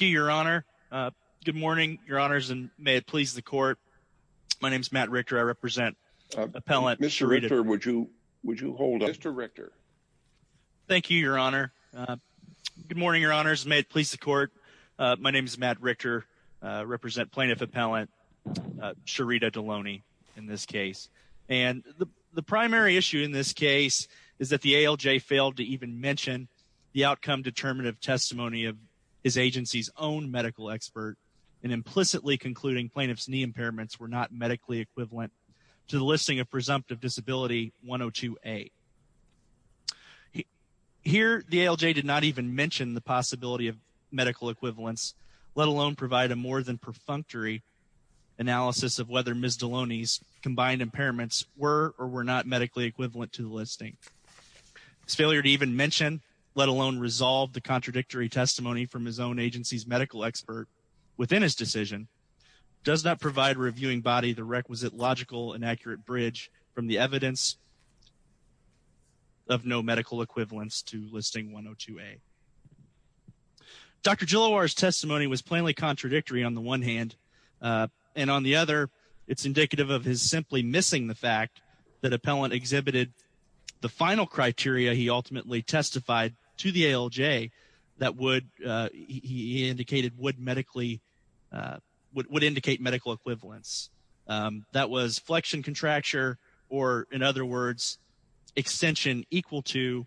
Mr. Richter, would you hold up Mr. Richter? Thank you, Your Honor. Good morning, Your Honors, and may it please the Court, my name is Matt Richter, I represent Plaintiff Appellant Sherita Deloney in this case. And the primary issue in this case is that the ALJ failed to even mention the outcome determinative testimony of his agency's own medical expert in implicitly concluding plaintiff's knee impairments were not medically equivalent to the listing of presumptive disability 102A. Here, the ALJ did not even mention the possibility of medical equivalence, let alone provide a more than perfunctory analysis of whether Ms. Deloney's combined impairments were or were not medically equivalent to the listing. His failure to even mention, let alone resolve the contradictory testimony from his own agency's medical expert within his decision does not provide a reviewing body the requisite logical and accurate bridge from the evidence of no medical equivalence to listing 102A. Dr. Gilliloir's testimony was plainly contradictory on the one hand, and on the other, it's indicative of his simply missing the fact that appellant exhibited the final criteria he ultimately testified to the ALJ that would, he indicated, would medically, would indicate medical equivalence. That was flexion contracture, or in other words, extension equal to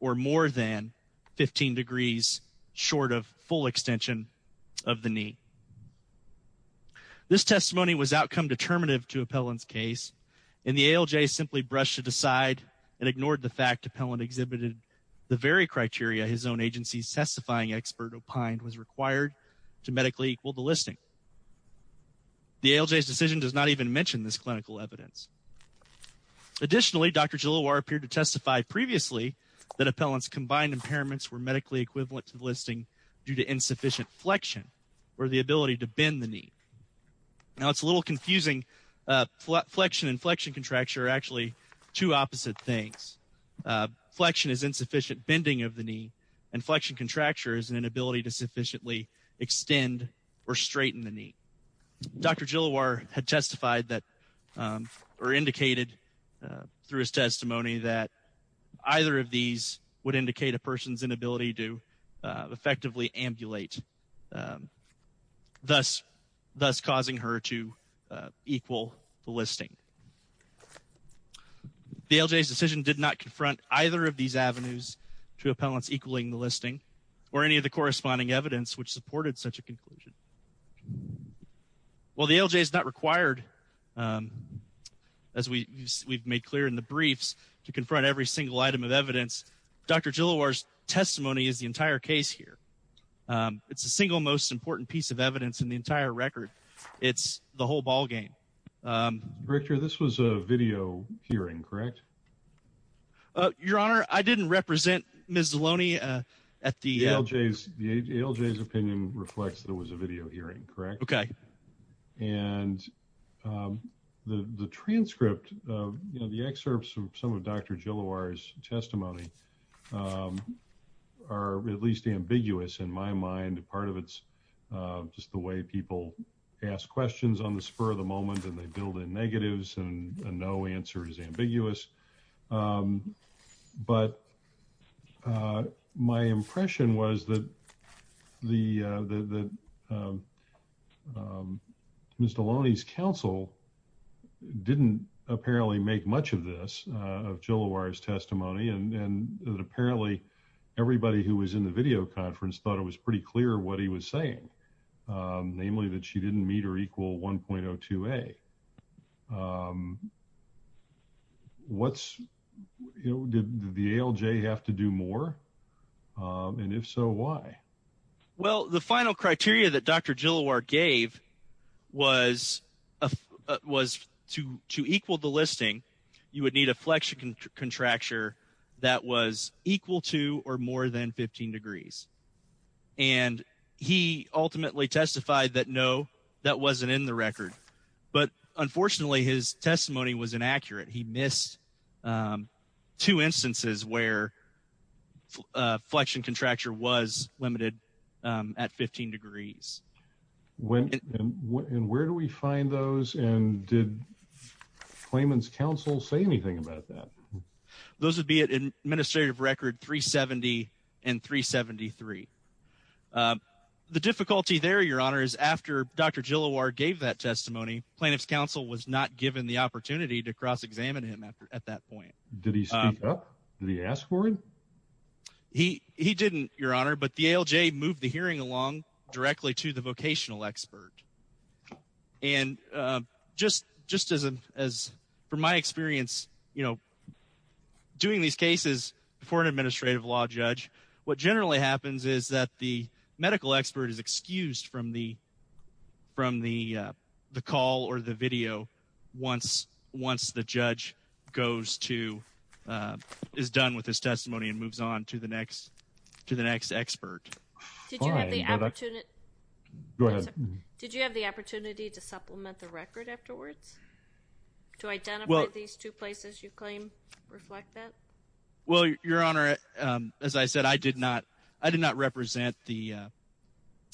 or more than 15 degrees short of full extension of the knee. This testimony was outcome determinative to appellant's case, and the ALJ simply brushed it aside and ignored the fact appellant exhibited the very criteria his own agency's testifying expert opined was required to medically equal the listing. The ALJ's decision does not even mention this clinical evidence. Additionally, Dr. Gilliloir appeared to testify previously that appellant's combined impairments were medically equivalent to the listing due to insufficient flexion, or the ability to bend the knee. Now, it's a little confusing. Flexion and flexion contracture are actually two opposite things. Flexion is insufficient bending of the knee, and flexion contracture is an inability to straighten the knee. Dr. Gilliloir had testified that, or indicated through his testimony that either of these would indicate a person's inability to effectively ambulate, thus causing her to equal the listing. The ALJ's decision did not confront either of these avenues to appellants equaling the listing or any of the corresponding evidence which supported such a conclusion. Well, the ALJ is not required, as we've made clear in the briefs, to confront every single item of evidence. Dr. Gilliloir's testimony is the entire case here. It's the single most important piece of evidence in the entire record. It's the whole ballgame. Director, this was a video hearing, correct? Your Honor, I didn't represent Ms. Deloney at the ALJ's. The ALJ's opinion reflects there was a video hearing. Okay. And the transcript, the excerpts of some of Dr. Gilliloir's testimony are at least ambiguous in my mind. Part of it's just the way people ask questions on the spur of the moment, and they build in negatives, and a no answer is ambiguous. But my impression was that Ms. Deloney's counsel didn't apparently make much of this, of Gilliloir's testimony, and that apparently everybody who was in the video conference thought it was pretty clear what he was saying, namely that she didn't meet or equal 1.02a. Did the ALJ have to do more? And if so, why? Well, the final criteria that Dr. Gilliloir gave was to equal the listing, you would need a flexure contracture that was equal to or more than 15 degrees. And he ultimately testified that no, that wasn't in the record. But unfortunately, his testimony was inaccurate. He missed two instances where flexion contracture was limited at 15 degrees. And where do we find those? And did Clayman's counsel say anything about that? Those would be at administrative record 370 and 373. The difficulty there, Your Honor, is after Dr. Gilliloir gave that testimony, plaintiff's counsel was not given the opportunity to cross-examine him at that point. Did he speak up? Did he ask for it? He didn't, Your Honor, but the ALJ moved the hearing along directly to the vocational expert. And just as, from my experience, you know, doing these cases for an administrative law judge, what generally happens is that the medical expert is excused from the call or the video once the judge goes to, is done with his testimony and moves on to the next expert. Did you have the opportunity to supplement the record afterwards? To identify these two places you claim reflect that? Well, Your Honor, as I said, I did not, I did not represent the,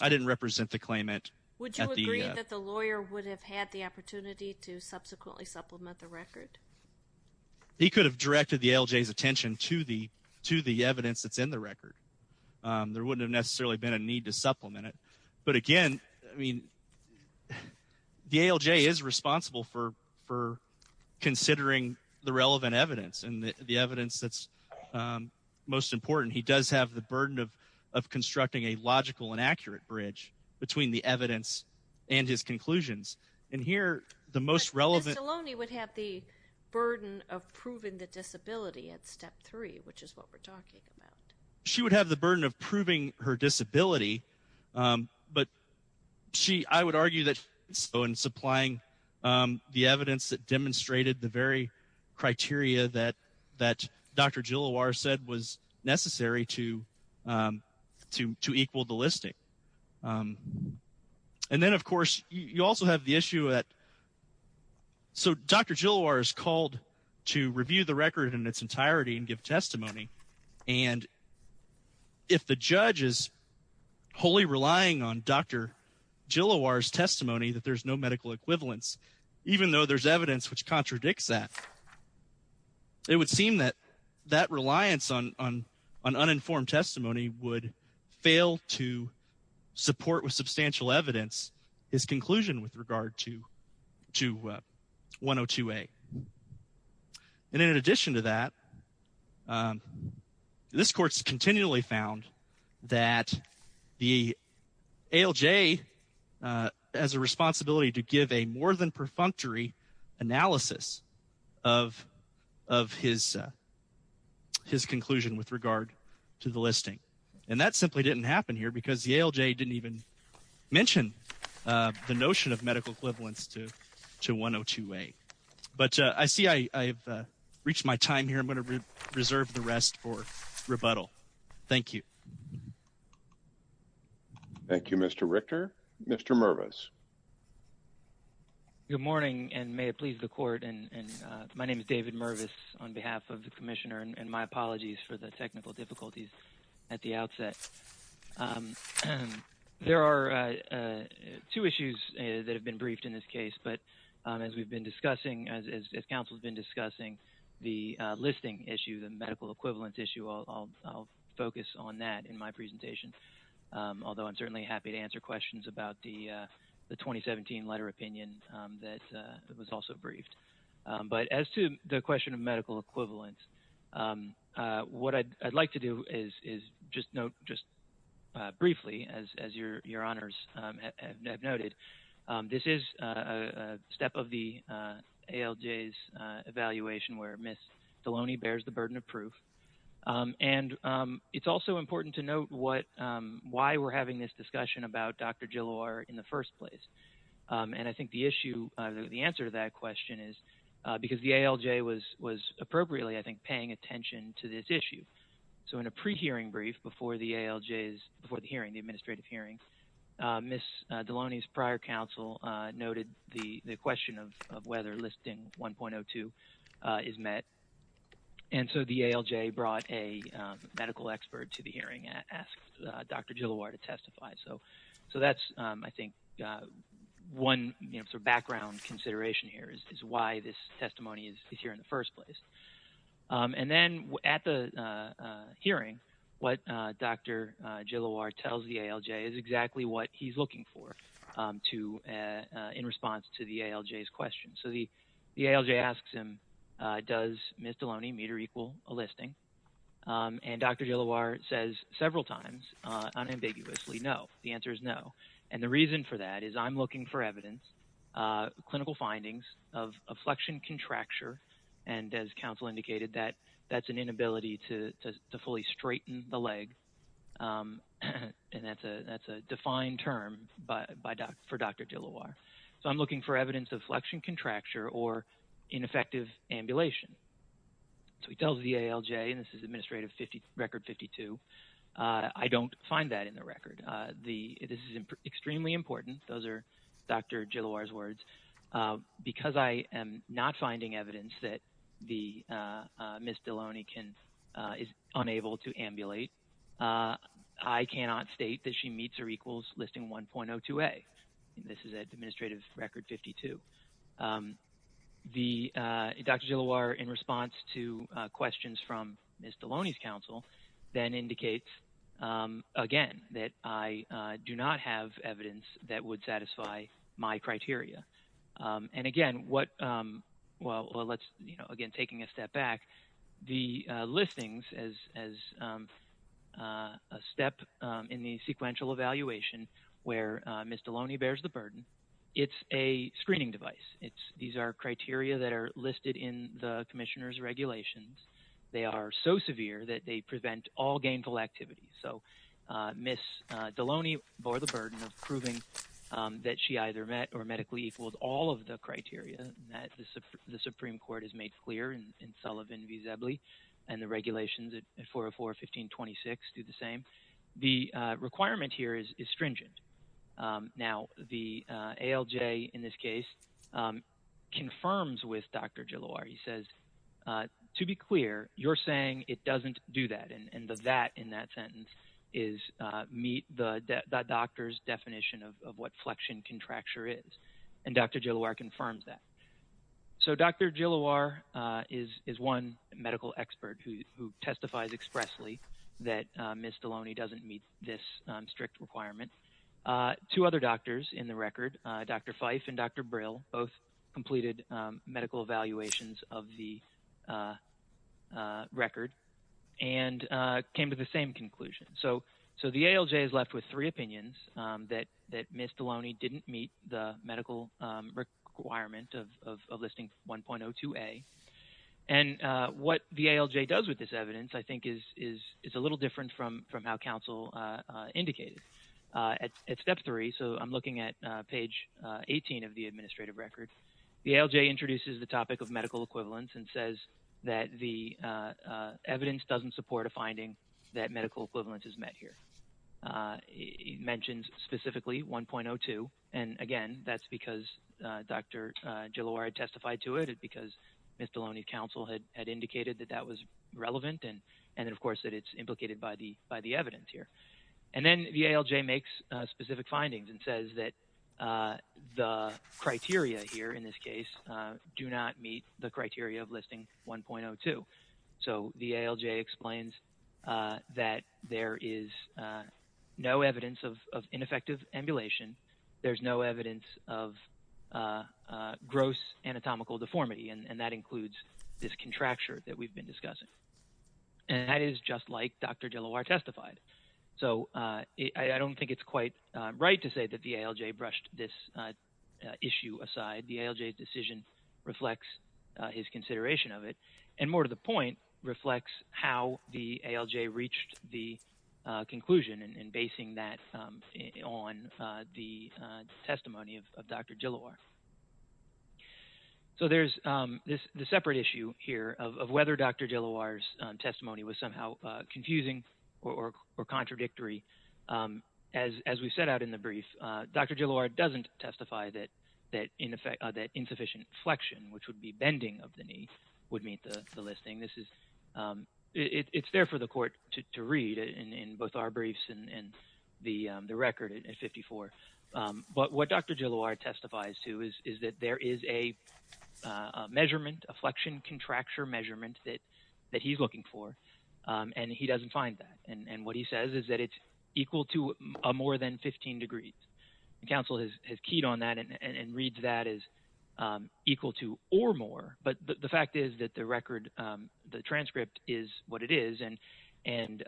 I didn't represent the claimant. Would you agree that the lawyer would have had the opportunity to subsequently supplement the record? He could have directed the ALJ's attention to the, to the evidence that's in the record. There wouldn't have necessarily been a need to supplement it. But again, I mean, the ALJ is responsible for, for considering the relevant evidence and the evidence that's most important. He does have the burden of, of constructing a logical and accurate bridge between the evidence and his conclusions. And here, the most relevant- But Stallone would have the burden of proving the disability at step three, which is what we're talking about. She would have the burden of proving her disability, but she, I would argue that so in applying the evidence that demonstrated the very criteria that, that Dr. Gilloir said was necessary to, to, to equal the listing. And then, of course, you also have the issue that, so Dr. Gilloir is called to review the record in its entirety and give testimony. And if the judge is wholly relying on Dr. Gilloir's testimony that there's no medical equivalence, even though there's evidence which contradicts that, it would seem that that reliance on, on, on uninformed testimony would fail to support with substantial evidence his conclusion with regard to, to 102A. And in addition to that, this court's continually found that the ALJ has a responsibility to give a more than perfunctory analysis of, of his, his conclusion with regard to the listing. And that simply didn't happen here because the ALJ didn't even mention the notion of medical equivalence to, to 102A. But I see I, I've reached my time here. I'm going to reserve the rest for rebuttal. Thank you. Thank you, Mr. Richter. Mr. Mervis. Good morning and may it please the court and, and my name is David Mervis on behalf of the commissioner and my apologies for the technical difficulties at the outset. There are two issues that have been briefed in this case, but as we've been discussing, as, as counsel has been discussing the listing issue, the medical equivalence issue, I'll, I'll focus on that in my presentation. Although I'm certainly happy to answer questions about the, the 2017 letter opinion that was also briefed. But as to the question of medical equivalence, what I'd, I'd like to do is, is just note just briefly as, as your, your honors have noted, this is a step of the ALJ's evaluation where Ms. Deloney bears the burden of proof. And it's also important to note what, why we're having this discussion about Dr. Gilloir in the first place. And I think the issue, the answer to that question is because the ALJ was, was appropriately, I think, paying attention to this issue. So in a pre-hearing brief before the ALJ's, before the hearing, the administrative hearing, Ms. Deloney's prior counsel noted the, the question of, of whether listing 1.02 is met. And so the ALJ brought a medical expert to the hearing and asked Dr. Gilloir to testify. So, so that's, I think, one sort of background consideration here is, is why this testimony is here in the first place. And then at the hearing, what Dr. Gilloir tells the ALJ is exactly what he's looking for to, in response to the ALJ's question. So the, the ALJ asks him, does Ms. Deloney meet or equal a listing? And Dr. Gilloir says several times, unambiguously, no, the answer is no. And the reason for that is I'm looking for evidence, clinical findings of, of flexion contracture. And as counsel indicated that, that's an inability to, to, to fully straighten the leg. And that's a, that's a defined term by, by, for Dr. Gilloir. So I'm looking for evidence of flexion contracture or ineffective ambulation. So he tells the ALJ, and this is administrative 50, record 52, I don't find that in the record. The, this is extremely important. Those are Dr. Gilloir's words. Because I am not finding evidence that the Ms. Deloney can, is unable to ambulate, I cannot state that she meets or equals listing 1.02a. This is at administrative record 52. The, Dr. Gilloir, in response to questions from Ms. Deloney's counsel, then indicates again, that I do not have evidence that would satisfy my criteria. And again, what, well, let's, you know, again, taking a step back, the listings as, as a step in the sequential evaluation where Ms. Deloney bears the burden, it's a screening device. It's, these are criteria that are listed in the commissioner's regulations. They are so severe that they prevent all gainful activity. So Ms. Deloney bore the burden of proving that she either met or medically equals all of the criteria that the Supreme Court has made clear in Sullivan v. Zebley. And the regulations at 404.15.26 do the same. The requirement here is, is stringent. Now, the ALJ in this case, confirms with Dr. Gilloir, he says, to be clear, you're saying it doesn't do that. And the that in that sentence is meet the doctor's definition of what flexion contracture is. And Dr. Gilloir confirms that. So Dr. Gilloir is one medical expert who testifies expressly that Ms. Deloney doesn't meet this strict requirement. Two other doctors in the record, Dr. Fife and Dr. Brill, both completed medical evaluations of the record and came to the same conclusion. So the ALJ is left with three opinions that Ms. Deloney didn't meet the medical requirement of listing 1.02a. And what the ALJ does with this evidence, I think, is a little different from how counsel indicated. At step three, so I'm looking at page 18 of the administrative record, the ALJ introduces the topic of medical equivalence and says that the evidence doesn't support a finding that medical equivalence is met here. It mentions specifically 1.02. And again, that's because Dr. Gilloir testified to it, because Ms. Deloney's counsel had indicated that that was relevant. And then, of course, that it's implicated by the evidence here. And then the ALJ makes specific findings and says that the criteria here, in this case, do not meet the criteria of listing 1.02. So the ALJ explains that there is no evidence of ineffective emulation. There's no evidence of gross anatomical deformity. And that includes this contracture that we've been discussing. And that is just like Dr. Gilloir testified. So I don't think it's quite right to say that the ALJ brushed this issue aside. The ALJ's decision reflects his consideration of it. And more to the point, reflects how the ALJ reached the conclusion in basing that on the testimony of Dr. Gilloir. So there's this separate issue here of whether Dr. Gilloir's testimony was somehow confusing or contradictory. As we set out in the brief, Dr. Gilloir doesn't testify that insufficient flexion, which would be bending of the knee, would meet the listing. This is, it's there for the court to read in both our briefs and the record at 54. But what Dr. Gilloir testifies to is that there is a measurement, a flexion contracture measurement that he's looking for. And he doesn't find that. And what he says is that it's equal to more than 15 degrees. And counsel has keyed on that and reads that as equal to or more. But the fact is that the record, the transcript is what it is. And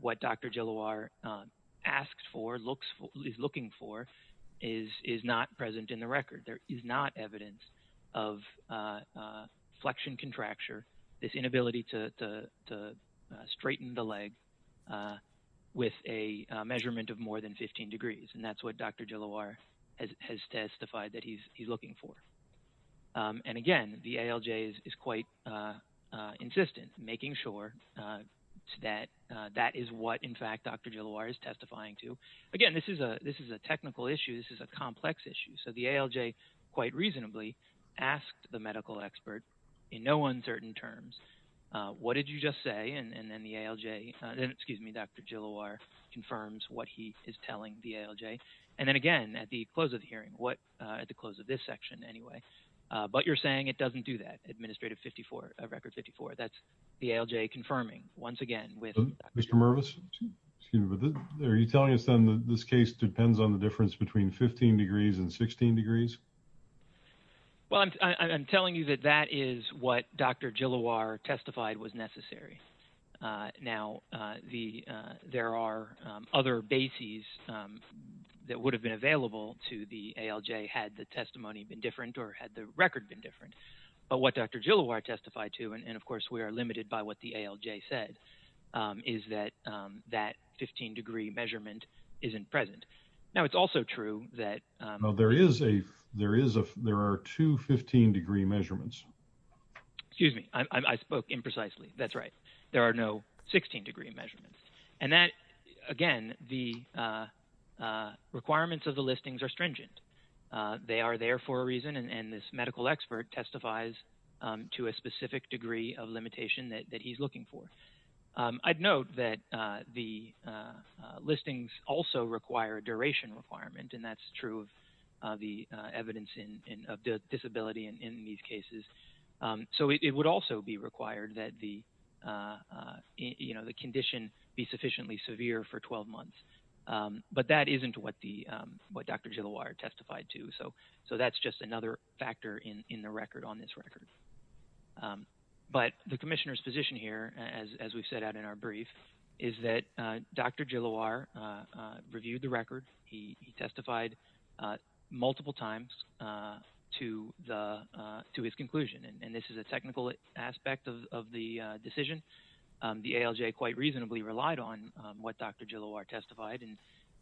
what Dr. Gilloir asks for, looks for, is looking for is not present in the record. There is not evidence of flexion contracture, this inability to straighten the leg with a measurement of more than 15 degrees. And that's what Dr. Gilloir has testified that he's looking for. And again, the ALJ is quite insistent, making sure that that is what, in fact, Dr. Gilloir is testifying to. Again, this is a technical issue. This is a complex issue. So the ALJ quite reasonably asked the medical expert in no uncertain terms, what did you just say? And then the ALJ, excuse me, Dr. Gilloir confirms what he is telling the ALJ. And then again, at the close of the hearing, what, at the close of this section anyway, but you're saying it doesn't do that. Administrative 54, record 54. That's the ALJ confirming once again with. Mr. Mervis, are you telling us then that this case depends on the difference between 15 degrees and 16 degrees? Well, I'm telling you that that is what Dr. Gilloir testified was necessary. Now, the there are other bases that would have been available to the ALJ had the testimony been different or had the record been different. But what Dr. Gilloir testified to, and of course, we are limited by what the ALJ said, is that that 15 degree measurement isn't present. Now, it's also true that there is a there is a there are two 15 degree measurements. Excuse me, I spoke imprecisely. That's right. There are no 16 degree measurements. And that again, the requirements of the listings are stringent. They are there for a reason. And this medical expert testifies to a specific degree of limitation that he's looking for. I'd note that the listings also require a duration requirement. And that's true of the evidence in of disability in these cases. So it would also be required that the you know, the condition be sufficiently severe for 12 months. But that isn't what the what Dr. Gilloir testified to. So so that's just another factor in the record on this record. But the commissioner's position here, as we've set out in our brief, is that Dr. Gilloir reviewed the record. He testified multiple times to the to his conclusion. And this is a technical aspect of the decision. The ALJ quite reasonably relied on what Dr. Gilloir testified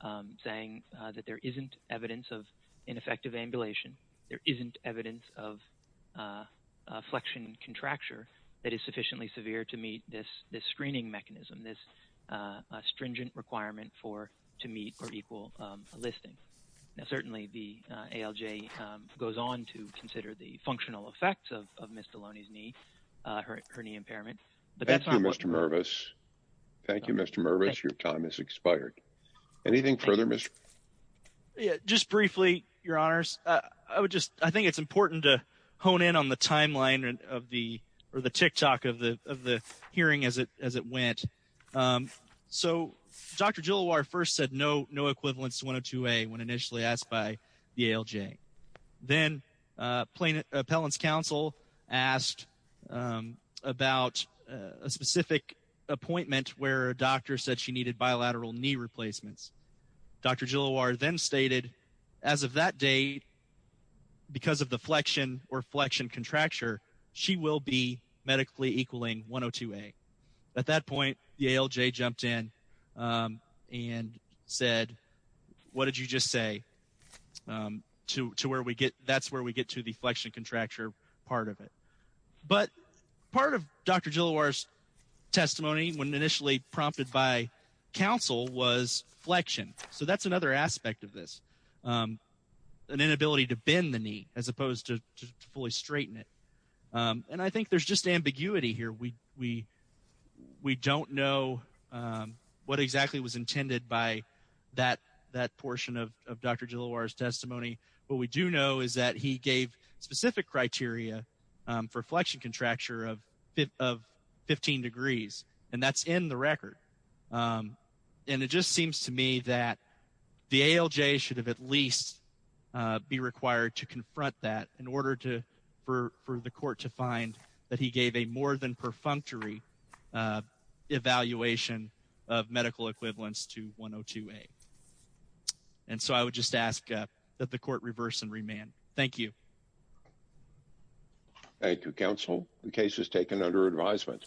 and saying that there isn't evidence of ineffective ambulation. There isn't evidence of flexion contracture that is sufficiently severe to meet this this listing. Now, certainly the ALJ goes on to consider the functional effects of Mr. Loney's knee, her knee impairment. But thank you, Mr. Mervis. Thank you, Mr. Mervis. Your time is expired. Anything further? Just briefly, your honors, I would just I think it's important to hone in on the timeline of the or the tick tock of the of the hearing as it as it went. And so Dr. Gilloir first said no, no equivalence to 102A when initially asked by the ALJ. Then Plaintiff Appellants Council asked about a specific appointment where a doctor said she needed bilateral knee replacements. Dr. Gilloir then stated as of that day, because of the flexion or flexion contracture, she will be medically equaling 102A. At that point, the ALJ jumped in and said, what did you just say to to where we get that's where we get to the flexion contracture part of it. But part of Dr. Gilloir's testimony when initially prompted by counsel was flexion. So that's another aspect of this, an inability to bend the knee as opposed to fully straighten it. And I think there's just ambiguity here. We we don't know what exactly was intended by that that portion of Dr. Gilloir's testimony. What we do know is that he gave specific criteria for flexion contracture of of 15 degrees, and that's in the record. And it just seems to me that the ALJ should have at least be required to confront that in order to for for the court to find that he gave a more than perfunctory evaluation of medical equivalence to 102A. And so I would just ask that the court reverse and remand. Thank you. Thank you, counsel. The case is taken under advisement.